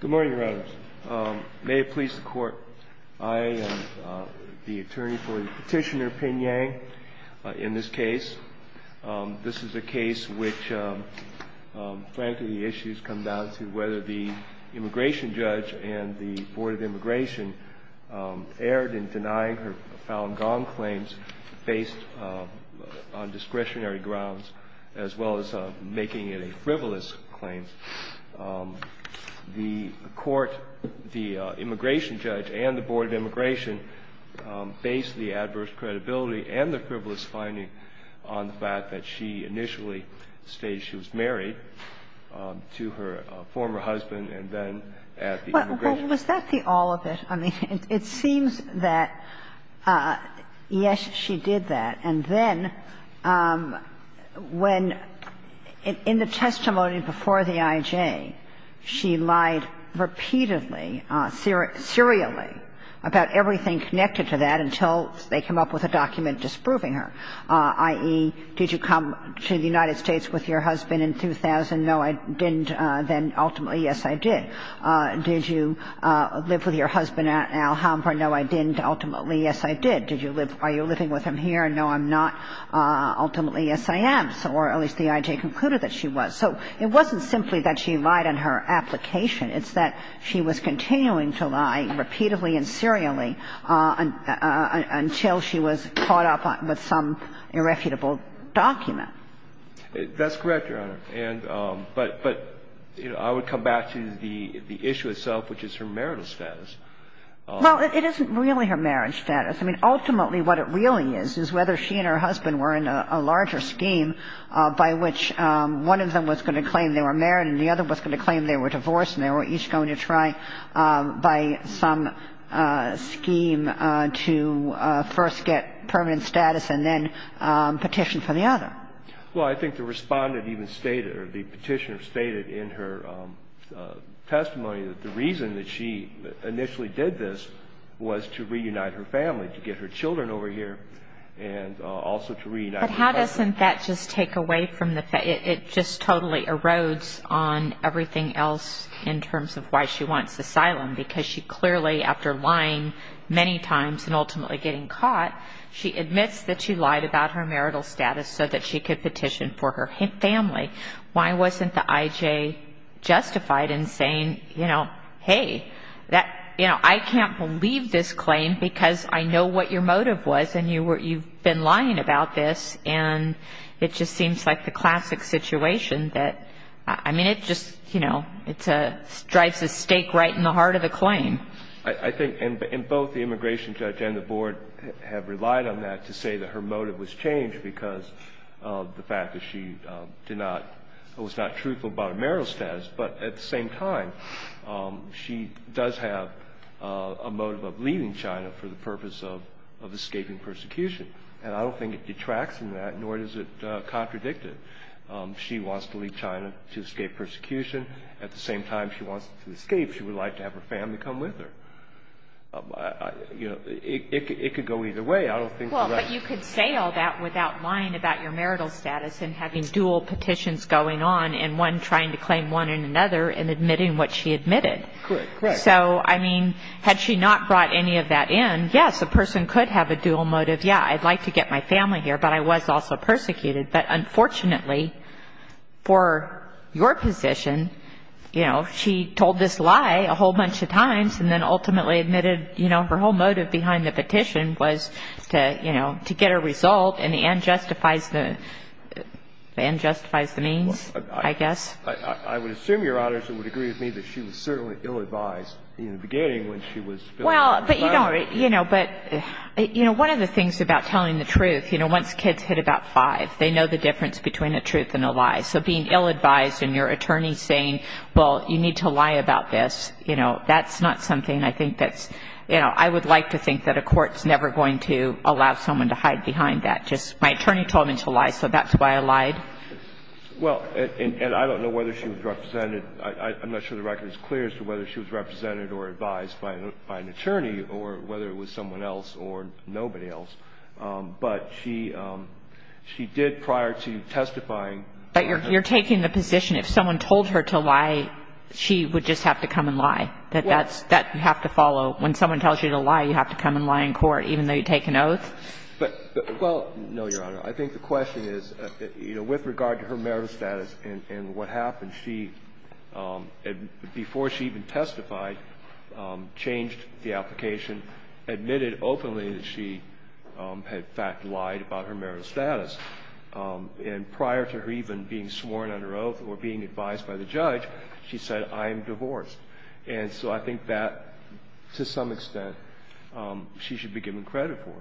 Good morning, Your Honor. May it please the Court, I am the attorney for Petitioner Pin Yang in this case. This is a case which, frankly, the issues come down to whether the immigration judge and the Board of Immigration erred in denying her Falun Gong claims based on discretionary grounds, as well as making it a frivolous claim. The Court, the immigration judge and the Board of Immigration, based the adverse credibility and the frivolous finding on the fact that she initially stated she was married to her former husband and then at the immigration. Was that the all of it? I mean, it seems that, yes, she did that, and then when in the testimony before the IJ, she lied repeatedly, serially, about everything connected to that until they came up with a document disproving her, i.e., did you come to the United States with your husband in 2000? No, I didn't. Then ultimately, yes, I did. Did you live with your husband at Alhambra? No, I didn't. Ultimately, yes, I did. Did you live – are you living with him here? No, I'm not. Ultimately, yes, I am. Or at least the IJ concluded that she was. So it wasn't simply that she lied on her application. It's that she was continuing to lie repeatedly and serially until she was caught up with some irrefutable document. That's correct, Your Honor, and – but, you know, I would come back to the issue itself, which is her marital status. Well, it isn't really her marriage status. I mean, ultimately what it really is is whether she and her husband were in a larger scheme by which one of them was going to claim they were married and the other was going to claim they were divorced and they were each going to try, by some scheme, to first get permanent status and then petition for the other. Well, I think the Respondent even stated, or the Petitioner stated in her testimony, that the reason that she initially did this was to reunite her family, to get her children over here and also to reunite her husband. But how doesn't that just take away from the – it just totally erodes on everything else in terms of why she wants asylum, because she clearly, after lying many times and ultimately getting caught, she admits that she lied about her marital status so that she could petition for her family. Why wasn't the IJ justified in saying, you know, hey, that – you know, I can't believe this claim because I know what your and it just seems like the classic situation that – I mean, it just, you know, it drives a stake right in the heart of the claim. I think – and both the immigration judge and the board have relied on that to say that her motive was changed because of the fact that she did not – was not truthful about her marital status. But at the same time, she does have a motive of leaving China for the purpose of escaping persecution. And I don't think it detracts from that, nor does it contradict it. She wants to leave China to escape persecution. At the same time she wants to escape, she would like to have her family come with her. You know, it could go either way. I don't think the right – Well, but you could say all that without lying about your marital status and having dual petitions going on and one trying to claim one and another and admitting what she admitted. Correct. Correct. So, I mean, had she not brought any of that in, yes, a person could have a dual motive. Yeah, I'd like to get my family here, but I was also persecuted. But, unfortunately, for your position, you know, she told this lie a whole bunch of times and then ultimately admitted, you know, her whole motive behind the petition was to, you know, to get a result and the end justifies the means, I guess. I would assume, Your Honors, you would agree with me that she was certainly ill-advised in the beginning when she was filling out the filing. Well, but, you know, but, you know, one of the things about telling the truth, you know, once kids hit about 5, they know the difference between a truth and a lie. So being ill-advised and your attorney saying, well, you need to lie about this, you know, that's not something I think that's, you know, I would like to think that a court's never going to allow someone to hide behind that. Just my attorney told me to lie, so that's why I lied. Well, and I don't know whether she was represented. I'm not sure the record is clear as to whether she was represented or advised by an attorney or whether it was someone else or nobody else. But she did prior to testifying. But you're taking the position if someone told her to lie, she would just have to come and lie, that that's, that you have to follow. When someone tells you to lie, you have to come and lie in court even though you take an oath? But, well, no, Your Honor. I think the question is, you know, with regard to her merit status and what happened, she, before she even testified, changed the application, admitted openly that she had, in fact, lied about her merit status. And prior to her even being sworn under oath or being advised by the judge, she said, I am divorced. And so I think that, to some extent, she should be given credit for,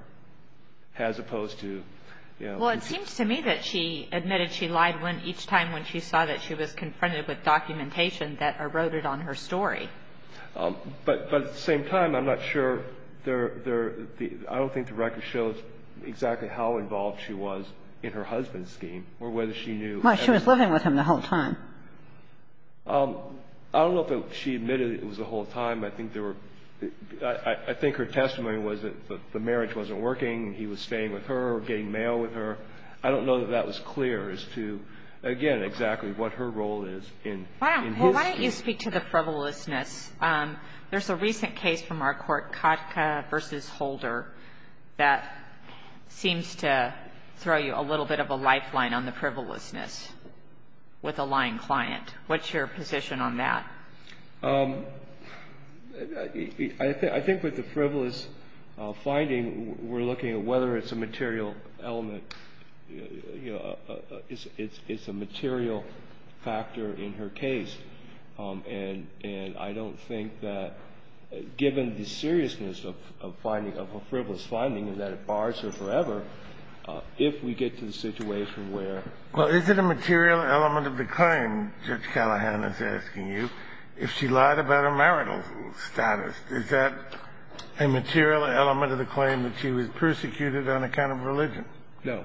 as opposed to, you know. Well, it seems to me that she admitted she lied each time when she saw that she was confronted with documentation that eroded on her story. But at the same time, I'm not sure there, I don't think the record shows exactly how involved she was in her husband's scheme or whether she knew. Well, she was living with him the whole time. I don't know if she admitted it was the whole time. I think there were, I think her testimony was that the marriage wasn't working and he was staying with her or getting mail with her. I don't know that that was clear as to, again, exactly what her role is in his scheme. Well, why don't you speak to the frivolousness? There's a recent case from our Court, Kotka v. Holder, that seems to throw you a little bit of a lifeline on the frivolousness with a lying client. What's your position on that? I think with the frivolous finding, we're looking at whether it's a material element, you know, it's a material factor in her case. And I don't think that, given the seriousness of finding, of a frivolous finding and that it bars her forever, if we get to the situation where ---- If she lied about her marital status, is that a material element of the claim that she was persecuted on account of religion? No.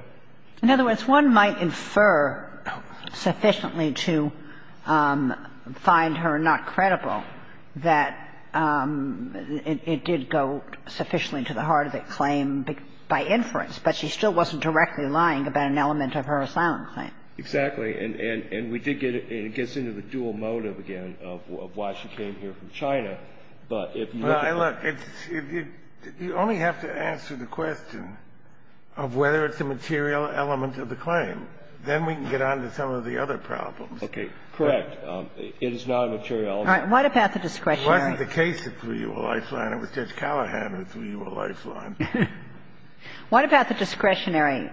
In other words, one might infer sufficiently to find her not credible that it did go sufficiently to the heart of the claim by inference, but she still wasn't directly lying about an element of her asylum claim. Exactly. And we did get a ---- it gets into the dual motive again of why she came here from China, but if you look at the---- Well, look, it's ---- you only have to answer the question of whether it's a material element of the claim. Then we can get on to some of the other problems. Correct. It is not a material element. All right. What about the discretionary---- It wasn't the case that threw you a lifeline. It was Judge Callahan that threw you a lifeline. What about the discretionary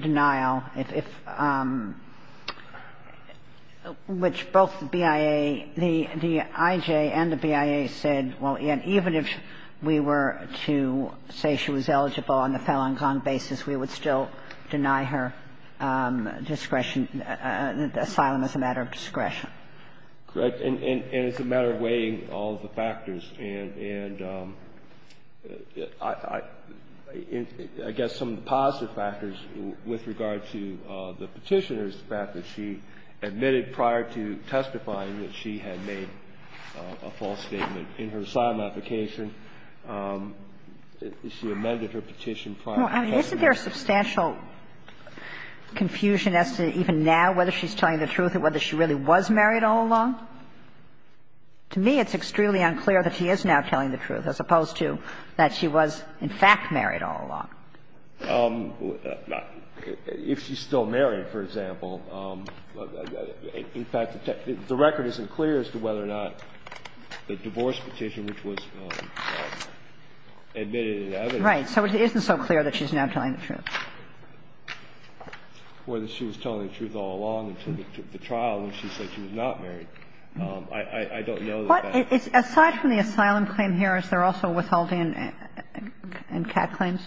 denial, if ---- which both the BIA, the IJ and the BIA said, well, even if we were to say she was eligible on the Falun Gong basis, we would still deny her discretion, asylum as a matter of discretion? Correct. And it's a matter of weighing all of the factors. And I guess some of the positive factors with regard to the Petitioner is the fact that she admitted prior to testifying that she had made a false statement in her asylum application. She amended her petition prior to testifying. Well, isn't there substantial confusion as to even now whether she's telling the truth or whether she really was married all along? To me, it's extremely unclear that she is now telling the truth, as opposed to that she was in fact married all along. If she's still married, for example, in fact, the record isn't clear as to whether or not the divorce petition, which was admitted in evidence---- Right. So it isn't so clear that she's now telling the truth. Or that she was telling the truth all along until the trial when she said she was not married. I don't know that that---- But aside from the asylum claim here, is there also withholding and cat claims?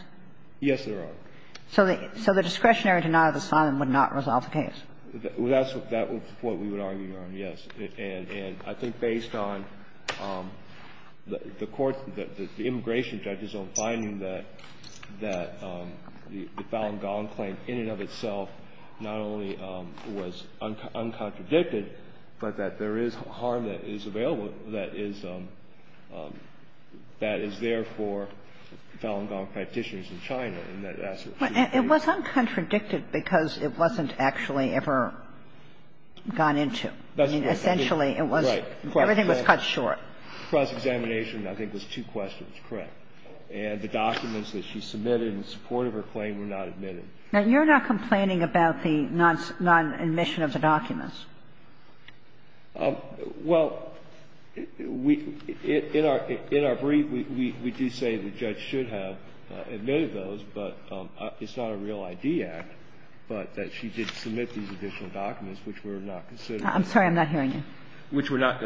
Yes, there are. So the discretionary denial of asylum would not resolve the case? That's what we would argue, Your Honor, yes. And I think based on the court, the immigration judge's own finding that the Fallon Golan claim in and of itself not only was uncontradicted, but that there is harm that is available, that is there for Fallon Golan practitioners in China. It was uncontradicted because it wasn't actually ever gone into. Essentially, it was, everything was cut short. Cross-examination, I think, was two questions correct. And the documents that she submitted in support of her claim were not admitted. Now, you're not complaining about the non-admission of the documents. Well, we, in our brief, we do say the judge should have admitted those, but it's not a real ID act, but that she did submit these additional documents which were not considered---- I'm sorry. I'm not hearing you. Which were not,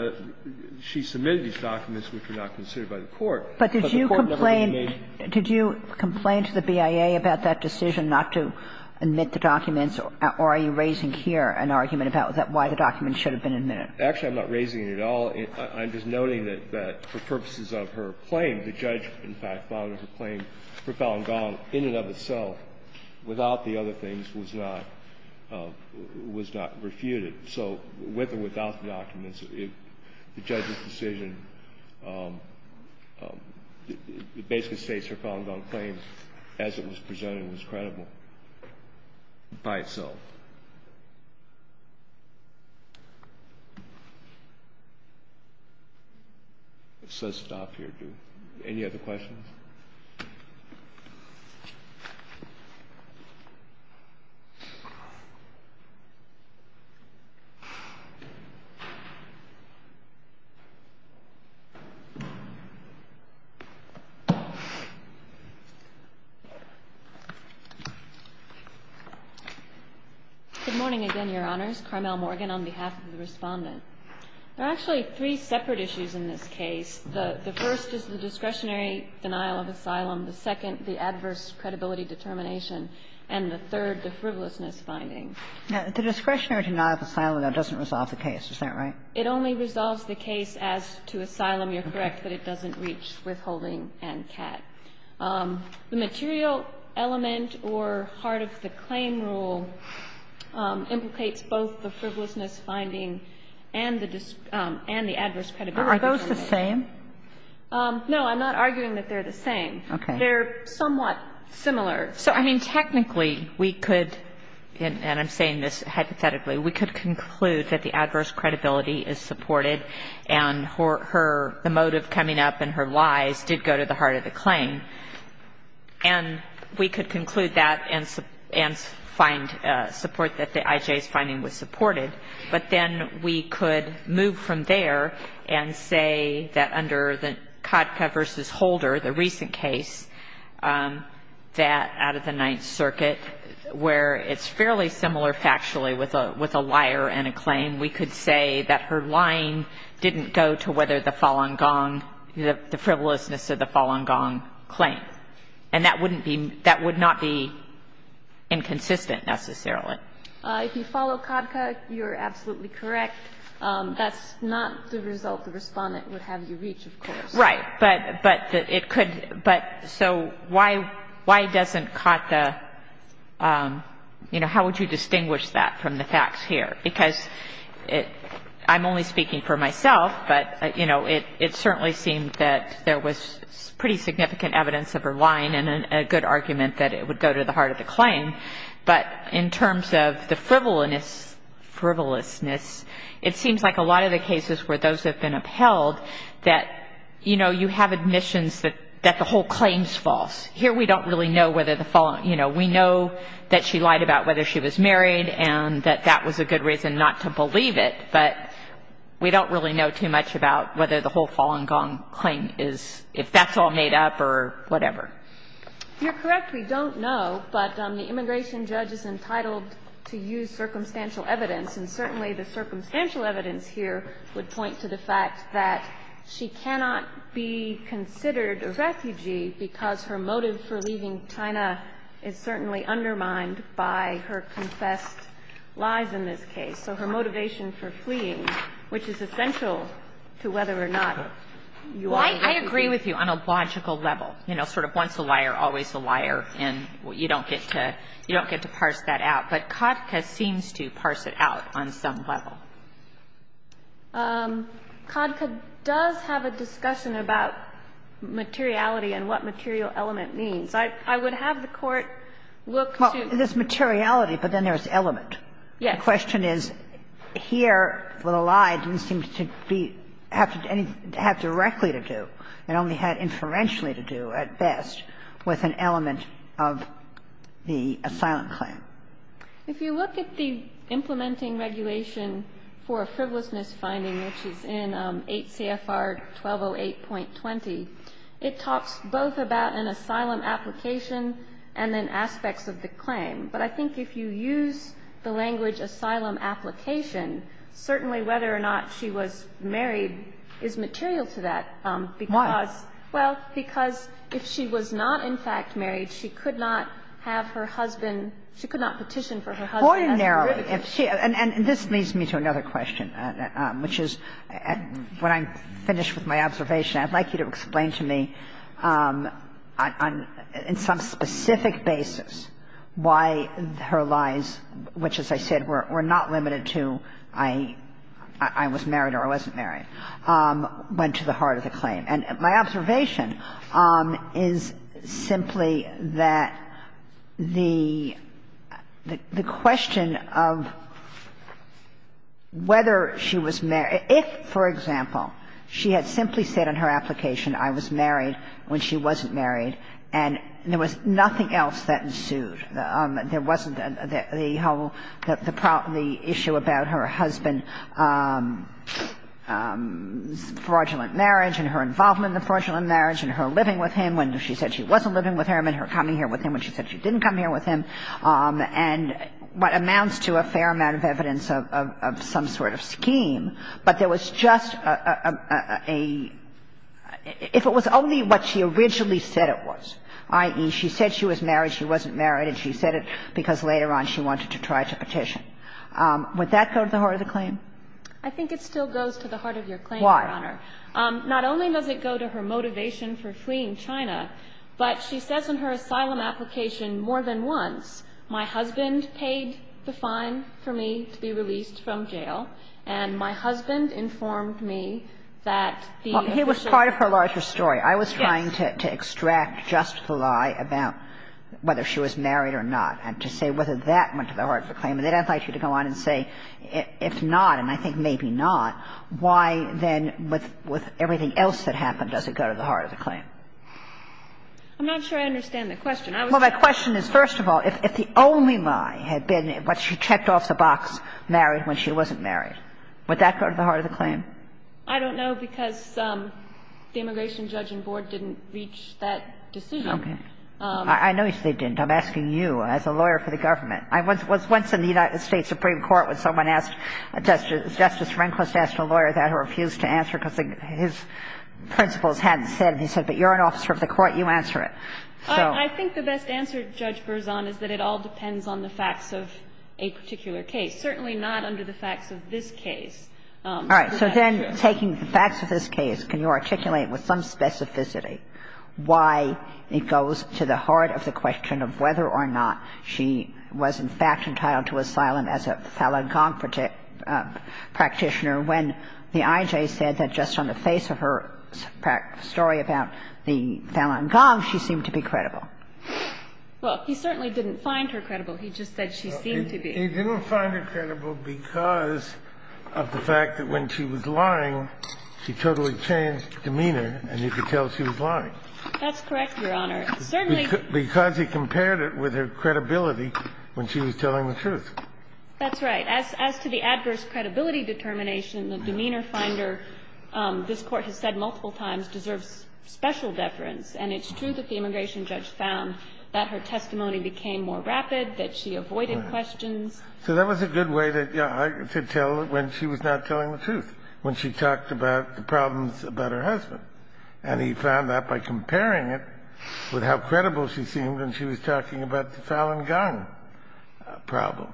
she submitted these documents which were not considered by the court. But the court never made---- But did you complain to the BIA about that decision not to admit the documents, or are you raising here an argument about why the documents should have been admitted? Actually, I'm not raising it at all. I'm just noting that for purposes of her claim, the judge, in fact, found that her claim for Fallon Golan in and of itself, without the other things, was not refuted. So with or without the documents, the judge's decision, basically states her Fallon Golan claim as it was presented was credible by itself. It says stop here. Do you have any other questions? Good morning again, Your Honors. Carmel Morgan on behalf of the Respondent. There are actually three separate issues in this case. The first is the discretionary denial of asylum. The second, the adverse credibility determination. And the third, the frivolousness finding. The discretionary denial of asylum, though, doesn't resolve the case. Is that right? It only resolves the case as to asylum. You're correct that it doesn't reach withholding and CAT. The material element or heart of the claim rule implicates both the frivolousness finding and the adverse credibility---- Are those the same? No, I'm not arguing that they're the same. Okay. They're somewhat similar. So, I mean, technically, we could, and I'm saying this hypothetically, we could conclude that the adverse credibility is supported and her, the motive coming up in her lies did go to the heart of the claim. And we could conclude that and find support that the IJ's finding was supported. But then we could move from there and say that under the Kodka v. Holder, the recent case, that out of the Ninth Circuit, where it's fairly similar factually with a liar and a claim, we could say that her lying didn't go to whether the Falun Gong, the frivolousness of the Falun Gong claim. And that wouldn't be, that would not be inconsistent necessarily. If you follow Kodka, you're absolutely correct. That's not the result the Respondent would have you reach, of course. Right. But it could, but so why doesn't Kodka, you know, how would you distinguish that from the facts here? Because I'm only speaking for myself, but, you know, it certainly seemed that there was pretty significant evidence of her lying and a good argument that it would go to the heart of the claim. But in terms of the frivolousness, it seems like a lot of the cases where those have been upheld that, you know, you have admissions that the whole claim is false. Here we don't really know whether the Falun, you know, we know that she lied about whether she was married and that that was a good reason not to believe it, but we don't really know too much about whether the whole Falun Gong claim is, if that's all made up or whatever. You're correct. We don't know, but the immigration judge is entitled to use circumstantial evidence, and certainly the circumstantial evidence here would point to the fact that she cannot be considered a refugee because her motive for leaving China is certainly undermined by her confessed lies in this case. So her motivation for fleeing, which is essential to whether or not you are a refugee. I agree with you on a logical level. You know, sort of once a liar, always a liar, and you don't get to parse that out. But CADCA seems to parse it out on some level. CADCA does have a discussion about materiality and what material element means. I would have the Court look to the materiality, but then there's element. Yes. My question is, here, the lie didn't seem to be to have anything directly to do. It only had inferentially to do, at best, with an element of the asylum claim. If you look at the implementing regulation for a frivolousness finding, which is in 8 CFR 1208.20, it talks both about an asylum application and then aspects of the claim. But I think if you use the language asylum application, certainly whether or not she was married is material to that, because why? Well, because if she was not, in fact, married, she could not have her husband – she could not petition for her husband as a refugee. And this leads me to another question, which is, when I'm finished with my observation, I'd like you to explain to me on some specific basis why her lies, which, as I said, were not limited to I was married or I wasn't married, went to the heart of the claim. And my observation is simply that the question of whether she was married – if, for example, she had simply said in her application I was married when she wasn't married, and there was nothing else that ensued. There wasn't the whole – the issue about her husband's fraudulent marriage and her involvement in the fraudulent marriage and her living with him when she said she wasn't living with him and her coming here with him when she said she didn't come here with him, and what amounts to a fair amount of evidence of some sort of scheme, but there was just a – if it was only what she originally said it was, i.e., she said she was married, she wasn't married, and she said it because later on she wanted to try to petition, would that go to the heart of the claim? I think it still goes to the heart of your claim, Your Honor. Why? Not only does it go to her motivation for fleeing China, but she says in her asylum application more than once my husband paid the fine for me to be released from jail, and my husband informed me that the official – Well, it was part of her larger story. Yes. I was trying to extract just the lie about whether she was married or not and to say whether that went to the heart of the claim. They don't like you to go on and say if not, and I think maybe not, why then with everything else that happened does it go to the heart of the claim? I'm not sure I understand the question. Well, my question is, first of all, if the only lie had been that she checked off the box married when she wasn't married, would that go to the heart of the claim? I don't know because the immigration judge and board didn't reach that decision. Okay. I know they didn't. I'm asking you as a lawyer for the government. I was once in the United States Supreme Court when someone asked Justice Rehnquist asked a lawyer that who refused to answer because his principles hadn't said, and he said, but you're an officer of the court, you answer it. I think the best answer, Judge Berzon, is that it all depends on the facts of a particular case, certainly not under the facts of this case. All right. So then taking the facts of this case, can you articulate with some specificity why it goes to the heart of the question of whether or not she was in fact entitled to asylum as a Falun Gong practitioner when the IJ said that just on the face of her story about the Falun Gong, she seemed to be credible? Well, he certainly didn't find her credible. He just said she seemed to be. He didn't find her credible because of the fact that when she was lying, she totally changed demeanor and you could tell she was lying. That's correct, Your Honor. Certainly. Because he compared it with her credibility when she was telling the truth. That's right. As to the adverse credibility determination, the demeanor finder, this Court has said multiple times, deserves special deference. And it's true that the immigration judge found that her testimony became more rapid, that she avoided questions. Right. So that was a good way to tell when she was not telling the truth, when she talked about the problems about her husband. And he found that by comparing it with how credible she seemed when she was talking about the Falun Gong problem.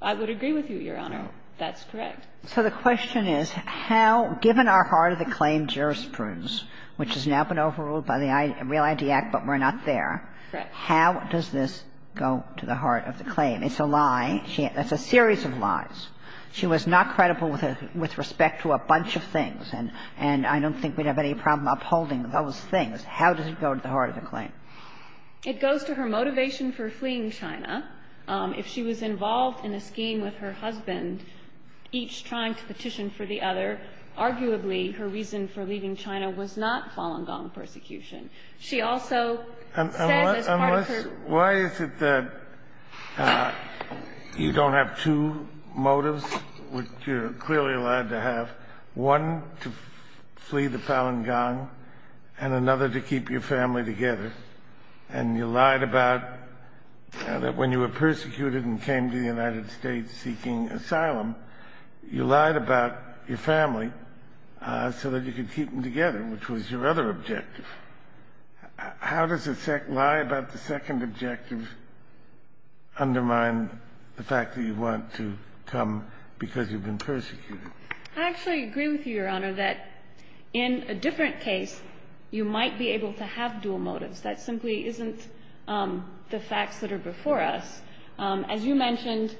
I would agree with you, Your Honor. That's correct. So the question is how, given our heart of the claim jurisprudence, which has now been overruled by the Real ID Act but we're not there, how does this go to the heart of the claim? It's a lie. It's a series of lies. She was not credible with respect to a bunch of things, and I don't think we'd have any problem upholding those things. How does it go to the heart of the claim? It goes to her motivation for fleeing China. If she was involved in a scheme with her husband, each trying to petition for the other, arguably her reason for leaving China was not Falun Gong persecution. She also said as part of her ---- Unless why is it that you don't have two motives, which you're clearly allowed to have, one to flee the Falun Gong and another to keep your family together, and you lied about that when you were persecuted and came to the United States seeking asylum, you lied about your family so that you could keep them together, which was your other objective? How does a lie about the second objective undermine the fact that you want to come because you've been persecuted? I actually agree with you, Your Honor, that in a different case you might be able to have dual motives. That simply isn't the facts that are before us. As you mentioned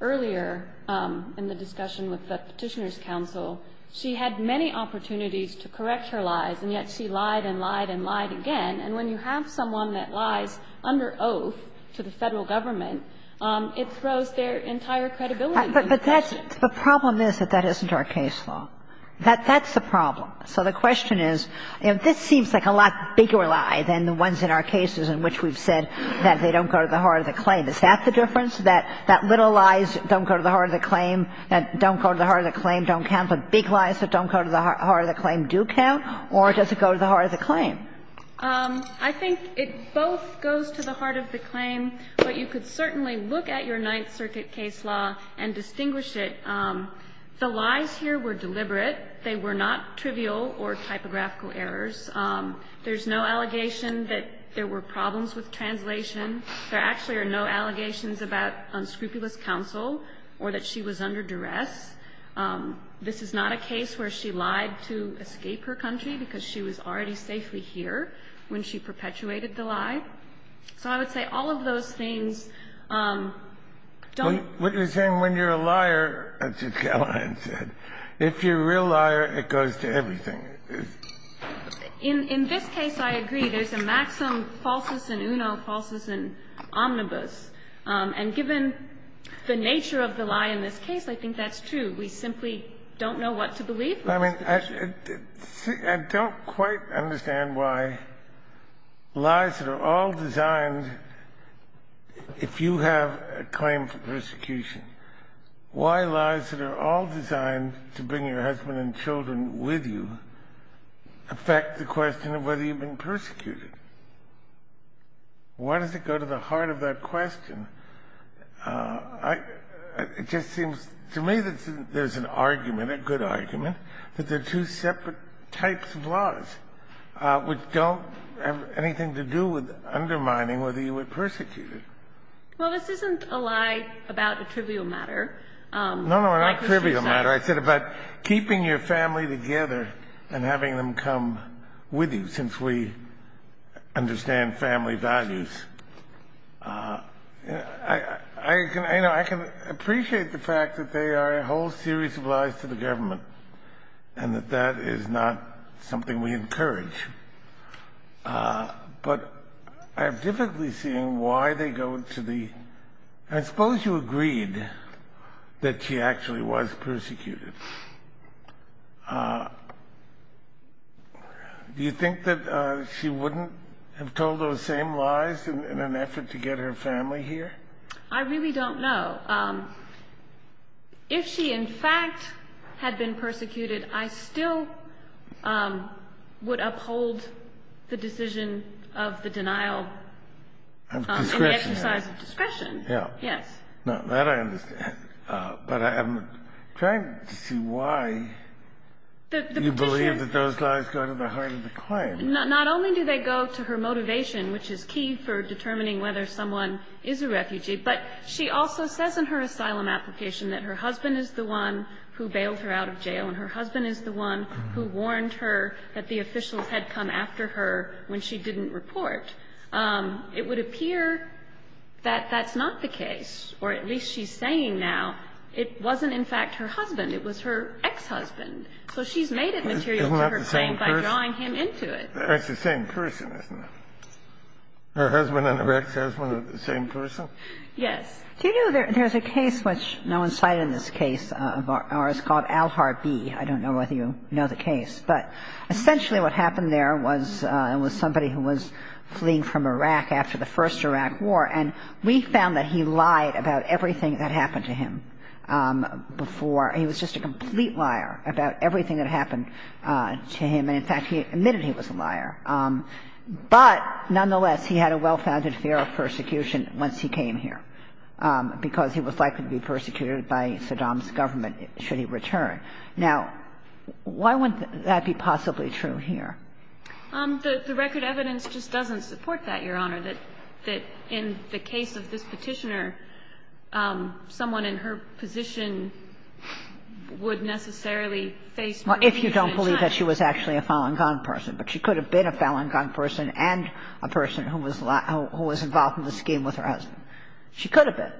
earlier in the discussion with the Petitioners' Council, she had many opportunities to correct her lies, and yet she lied and lied and lied again. And when you have someone that lies under oath to the Federal Government, it throws their entire credibility into question. But that's the problem is that that isn't our case law. That's the problem. So the question is, you know, this seems like a lot bigger lie than the ones in our cases in which we've said that they don't go to the heart of the claim. Is that the difference, that little lies don't go to the heart of the claim, that don't go to the heart of the claim don't count, but big lies that don't go to the heart of the claim do count, or does it go to the heart of the claim? I think it both goes to the heart of the claim, but you could certainly look at your Ninth Circuit case law and distinguish it. The lies here were deliberate. They were not trivial or typographical errors. There's no allegation that there were problems with translation. There actually are no allegations about unscrupulous counsel or that she was under duress. This is not a case where she lied to escape her country because she was already safely here when she perpetuated the lie. So I would say all of those things don't go to the heart of the claim. If you're a liar, as Ms. Callahan said, if you're a real liar, it goes to everything. In this case, I agree. There's a maxim, falsus in uno, falsus in omnibus. And given the nature of the lie in this case, I think that's true. We simply don't know what to believe. I mean, I don't quite understand why lies that are all designed, if you have a claim to persecution, why lies that are all designed to bring your husband and children with you affect the question of whether you've been persecuted? Why does it go to the heart of that question? It just seems to me that there's an argument, a good argument, that there are two separate types of laws which don't have anything to do with undermining whether you were persecuted. Well, this isn't a lie about a trivial matter. No, no, not a trivial matter. I said about keeping your family together and having them come with you, since we understand family values. I can appreciate the fact that they are a whole series of lies to the government and that that is not something we encourage. But I'm vividly seeing why they go to the... I suppose you agreed that she actually was persecuted. Do you think that she wouldn't have told those same lies in an effort to get her family here? I really don't know. If she, in fact, had been persecuted, I still would uphold the decision of the denial and the exercise of discretion. Yeah. Yes. Now, that I understand. But I'm trying to see why you believe that those lies go to the heart of the claim. Not only do they go to her motivation, which is key for determining whether someone is a refugee, but she also says in her asylum application that her husband is the one who bailed her out of jail and her husband is the one who warned her that the officials had come after her when she didn't report. It would appear that that's not the case, or at least she's saying now it wasn't, in fact, her husband. It was her ex-husband. So she's made it material to her claim by drawing him into it. It's the same person, isn't it? Her husband and her ex-husband are the same person? Yes. Do you know there's a case which no one cited in this case of ours called Alharbi? I don't know whether you know the case. But essentially what happened there was it was somebody who was fleeing from Iraq after the first Iraq war. And we found that he lied about everything that happened to him before. He was just a complete liar about everything that happened to him. And, in fact, he admitted he was a liar. But nonetheless, he had a well-founded fear of persecution once he came here, because he was likely to be persecuted by Saddam's government should he return. Now, why would that be possibly true here? The record evidence just doesn't support that, Your Honor, that in the case of this Petitioner, someone in her position would necessarily face more punishment in China. Well, if you don't believe that she was actually a fallen gun person. But she could have been a fallen gun person and a person who was involved in the scheme with her husband. She could have been.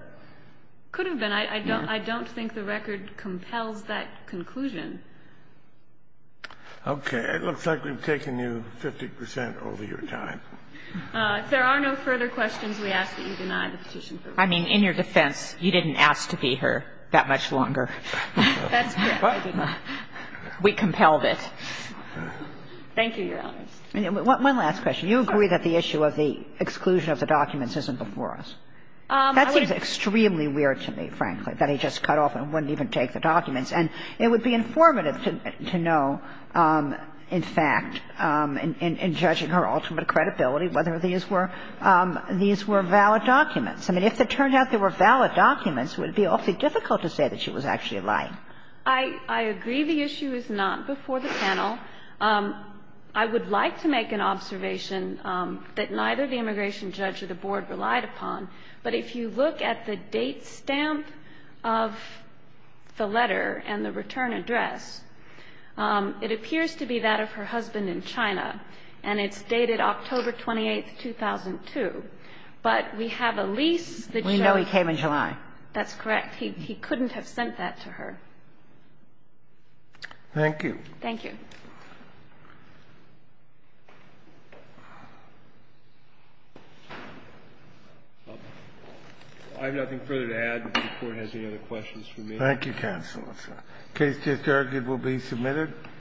Could have been. I don't think the record compels that conclusion. Okay. It looks like we've taken you 50 percent over your time. If there are no further questions, we ask that you deny the petition. I mean, in your defense, you didn't ask to be her that much longer. That's correct. We compelled it. Thank you, Your Honor. One last question. You agree that the issue of the exclusion of the documents isn't before us? That seems extremely weird to me, frankly, that he just cut off and wouldn't even take the documents. And it would be informative to know, in fact, in judging her ultimate credibility, whether these were valid documents. I mean, if it turned out they were valid documents, it would be awfully difficult to say that she was actually lying. I agree the issue is not before the panel. I would like to make an observation that neither the immigration judge or the board relied upon. But if you look at the date stamp of the letter and the return address, it appears to be that of her husband in China. And it's dated October 28, 2002. But we have a lease. We know he came in July. That's correct. He couldn't have sent that to her. Thank you. Thank you. I have nothing further to add. If the Court has any other questions for me. Thank you, Counsel. The case just argued will be submitted.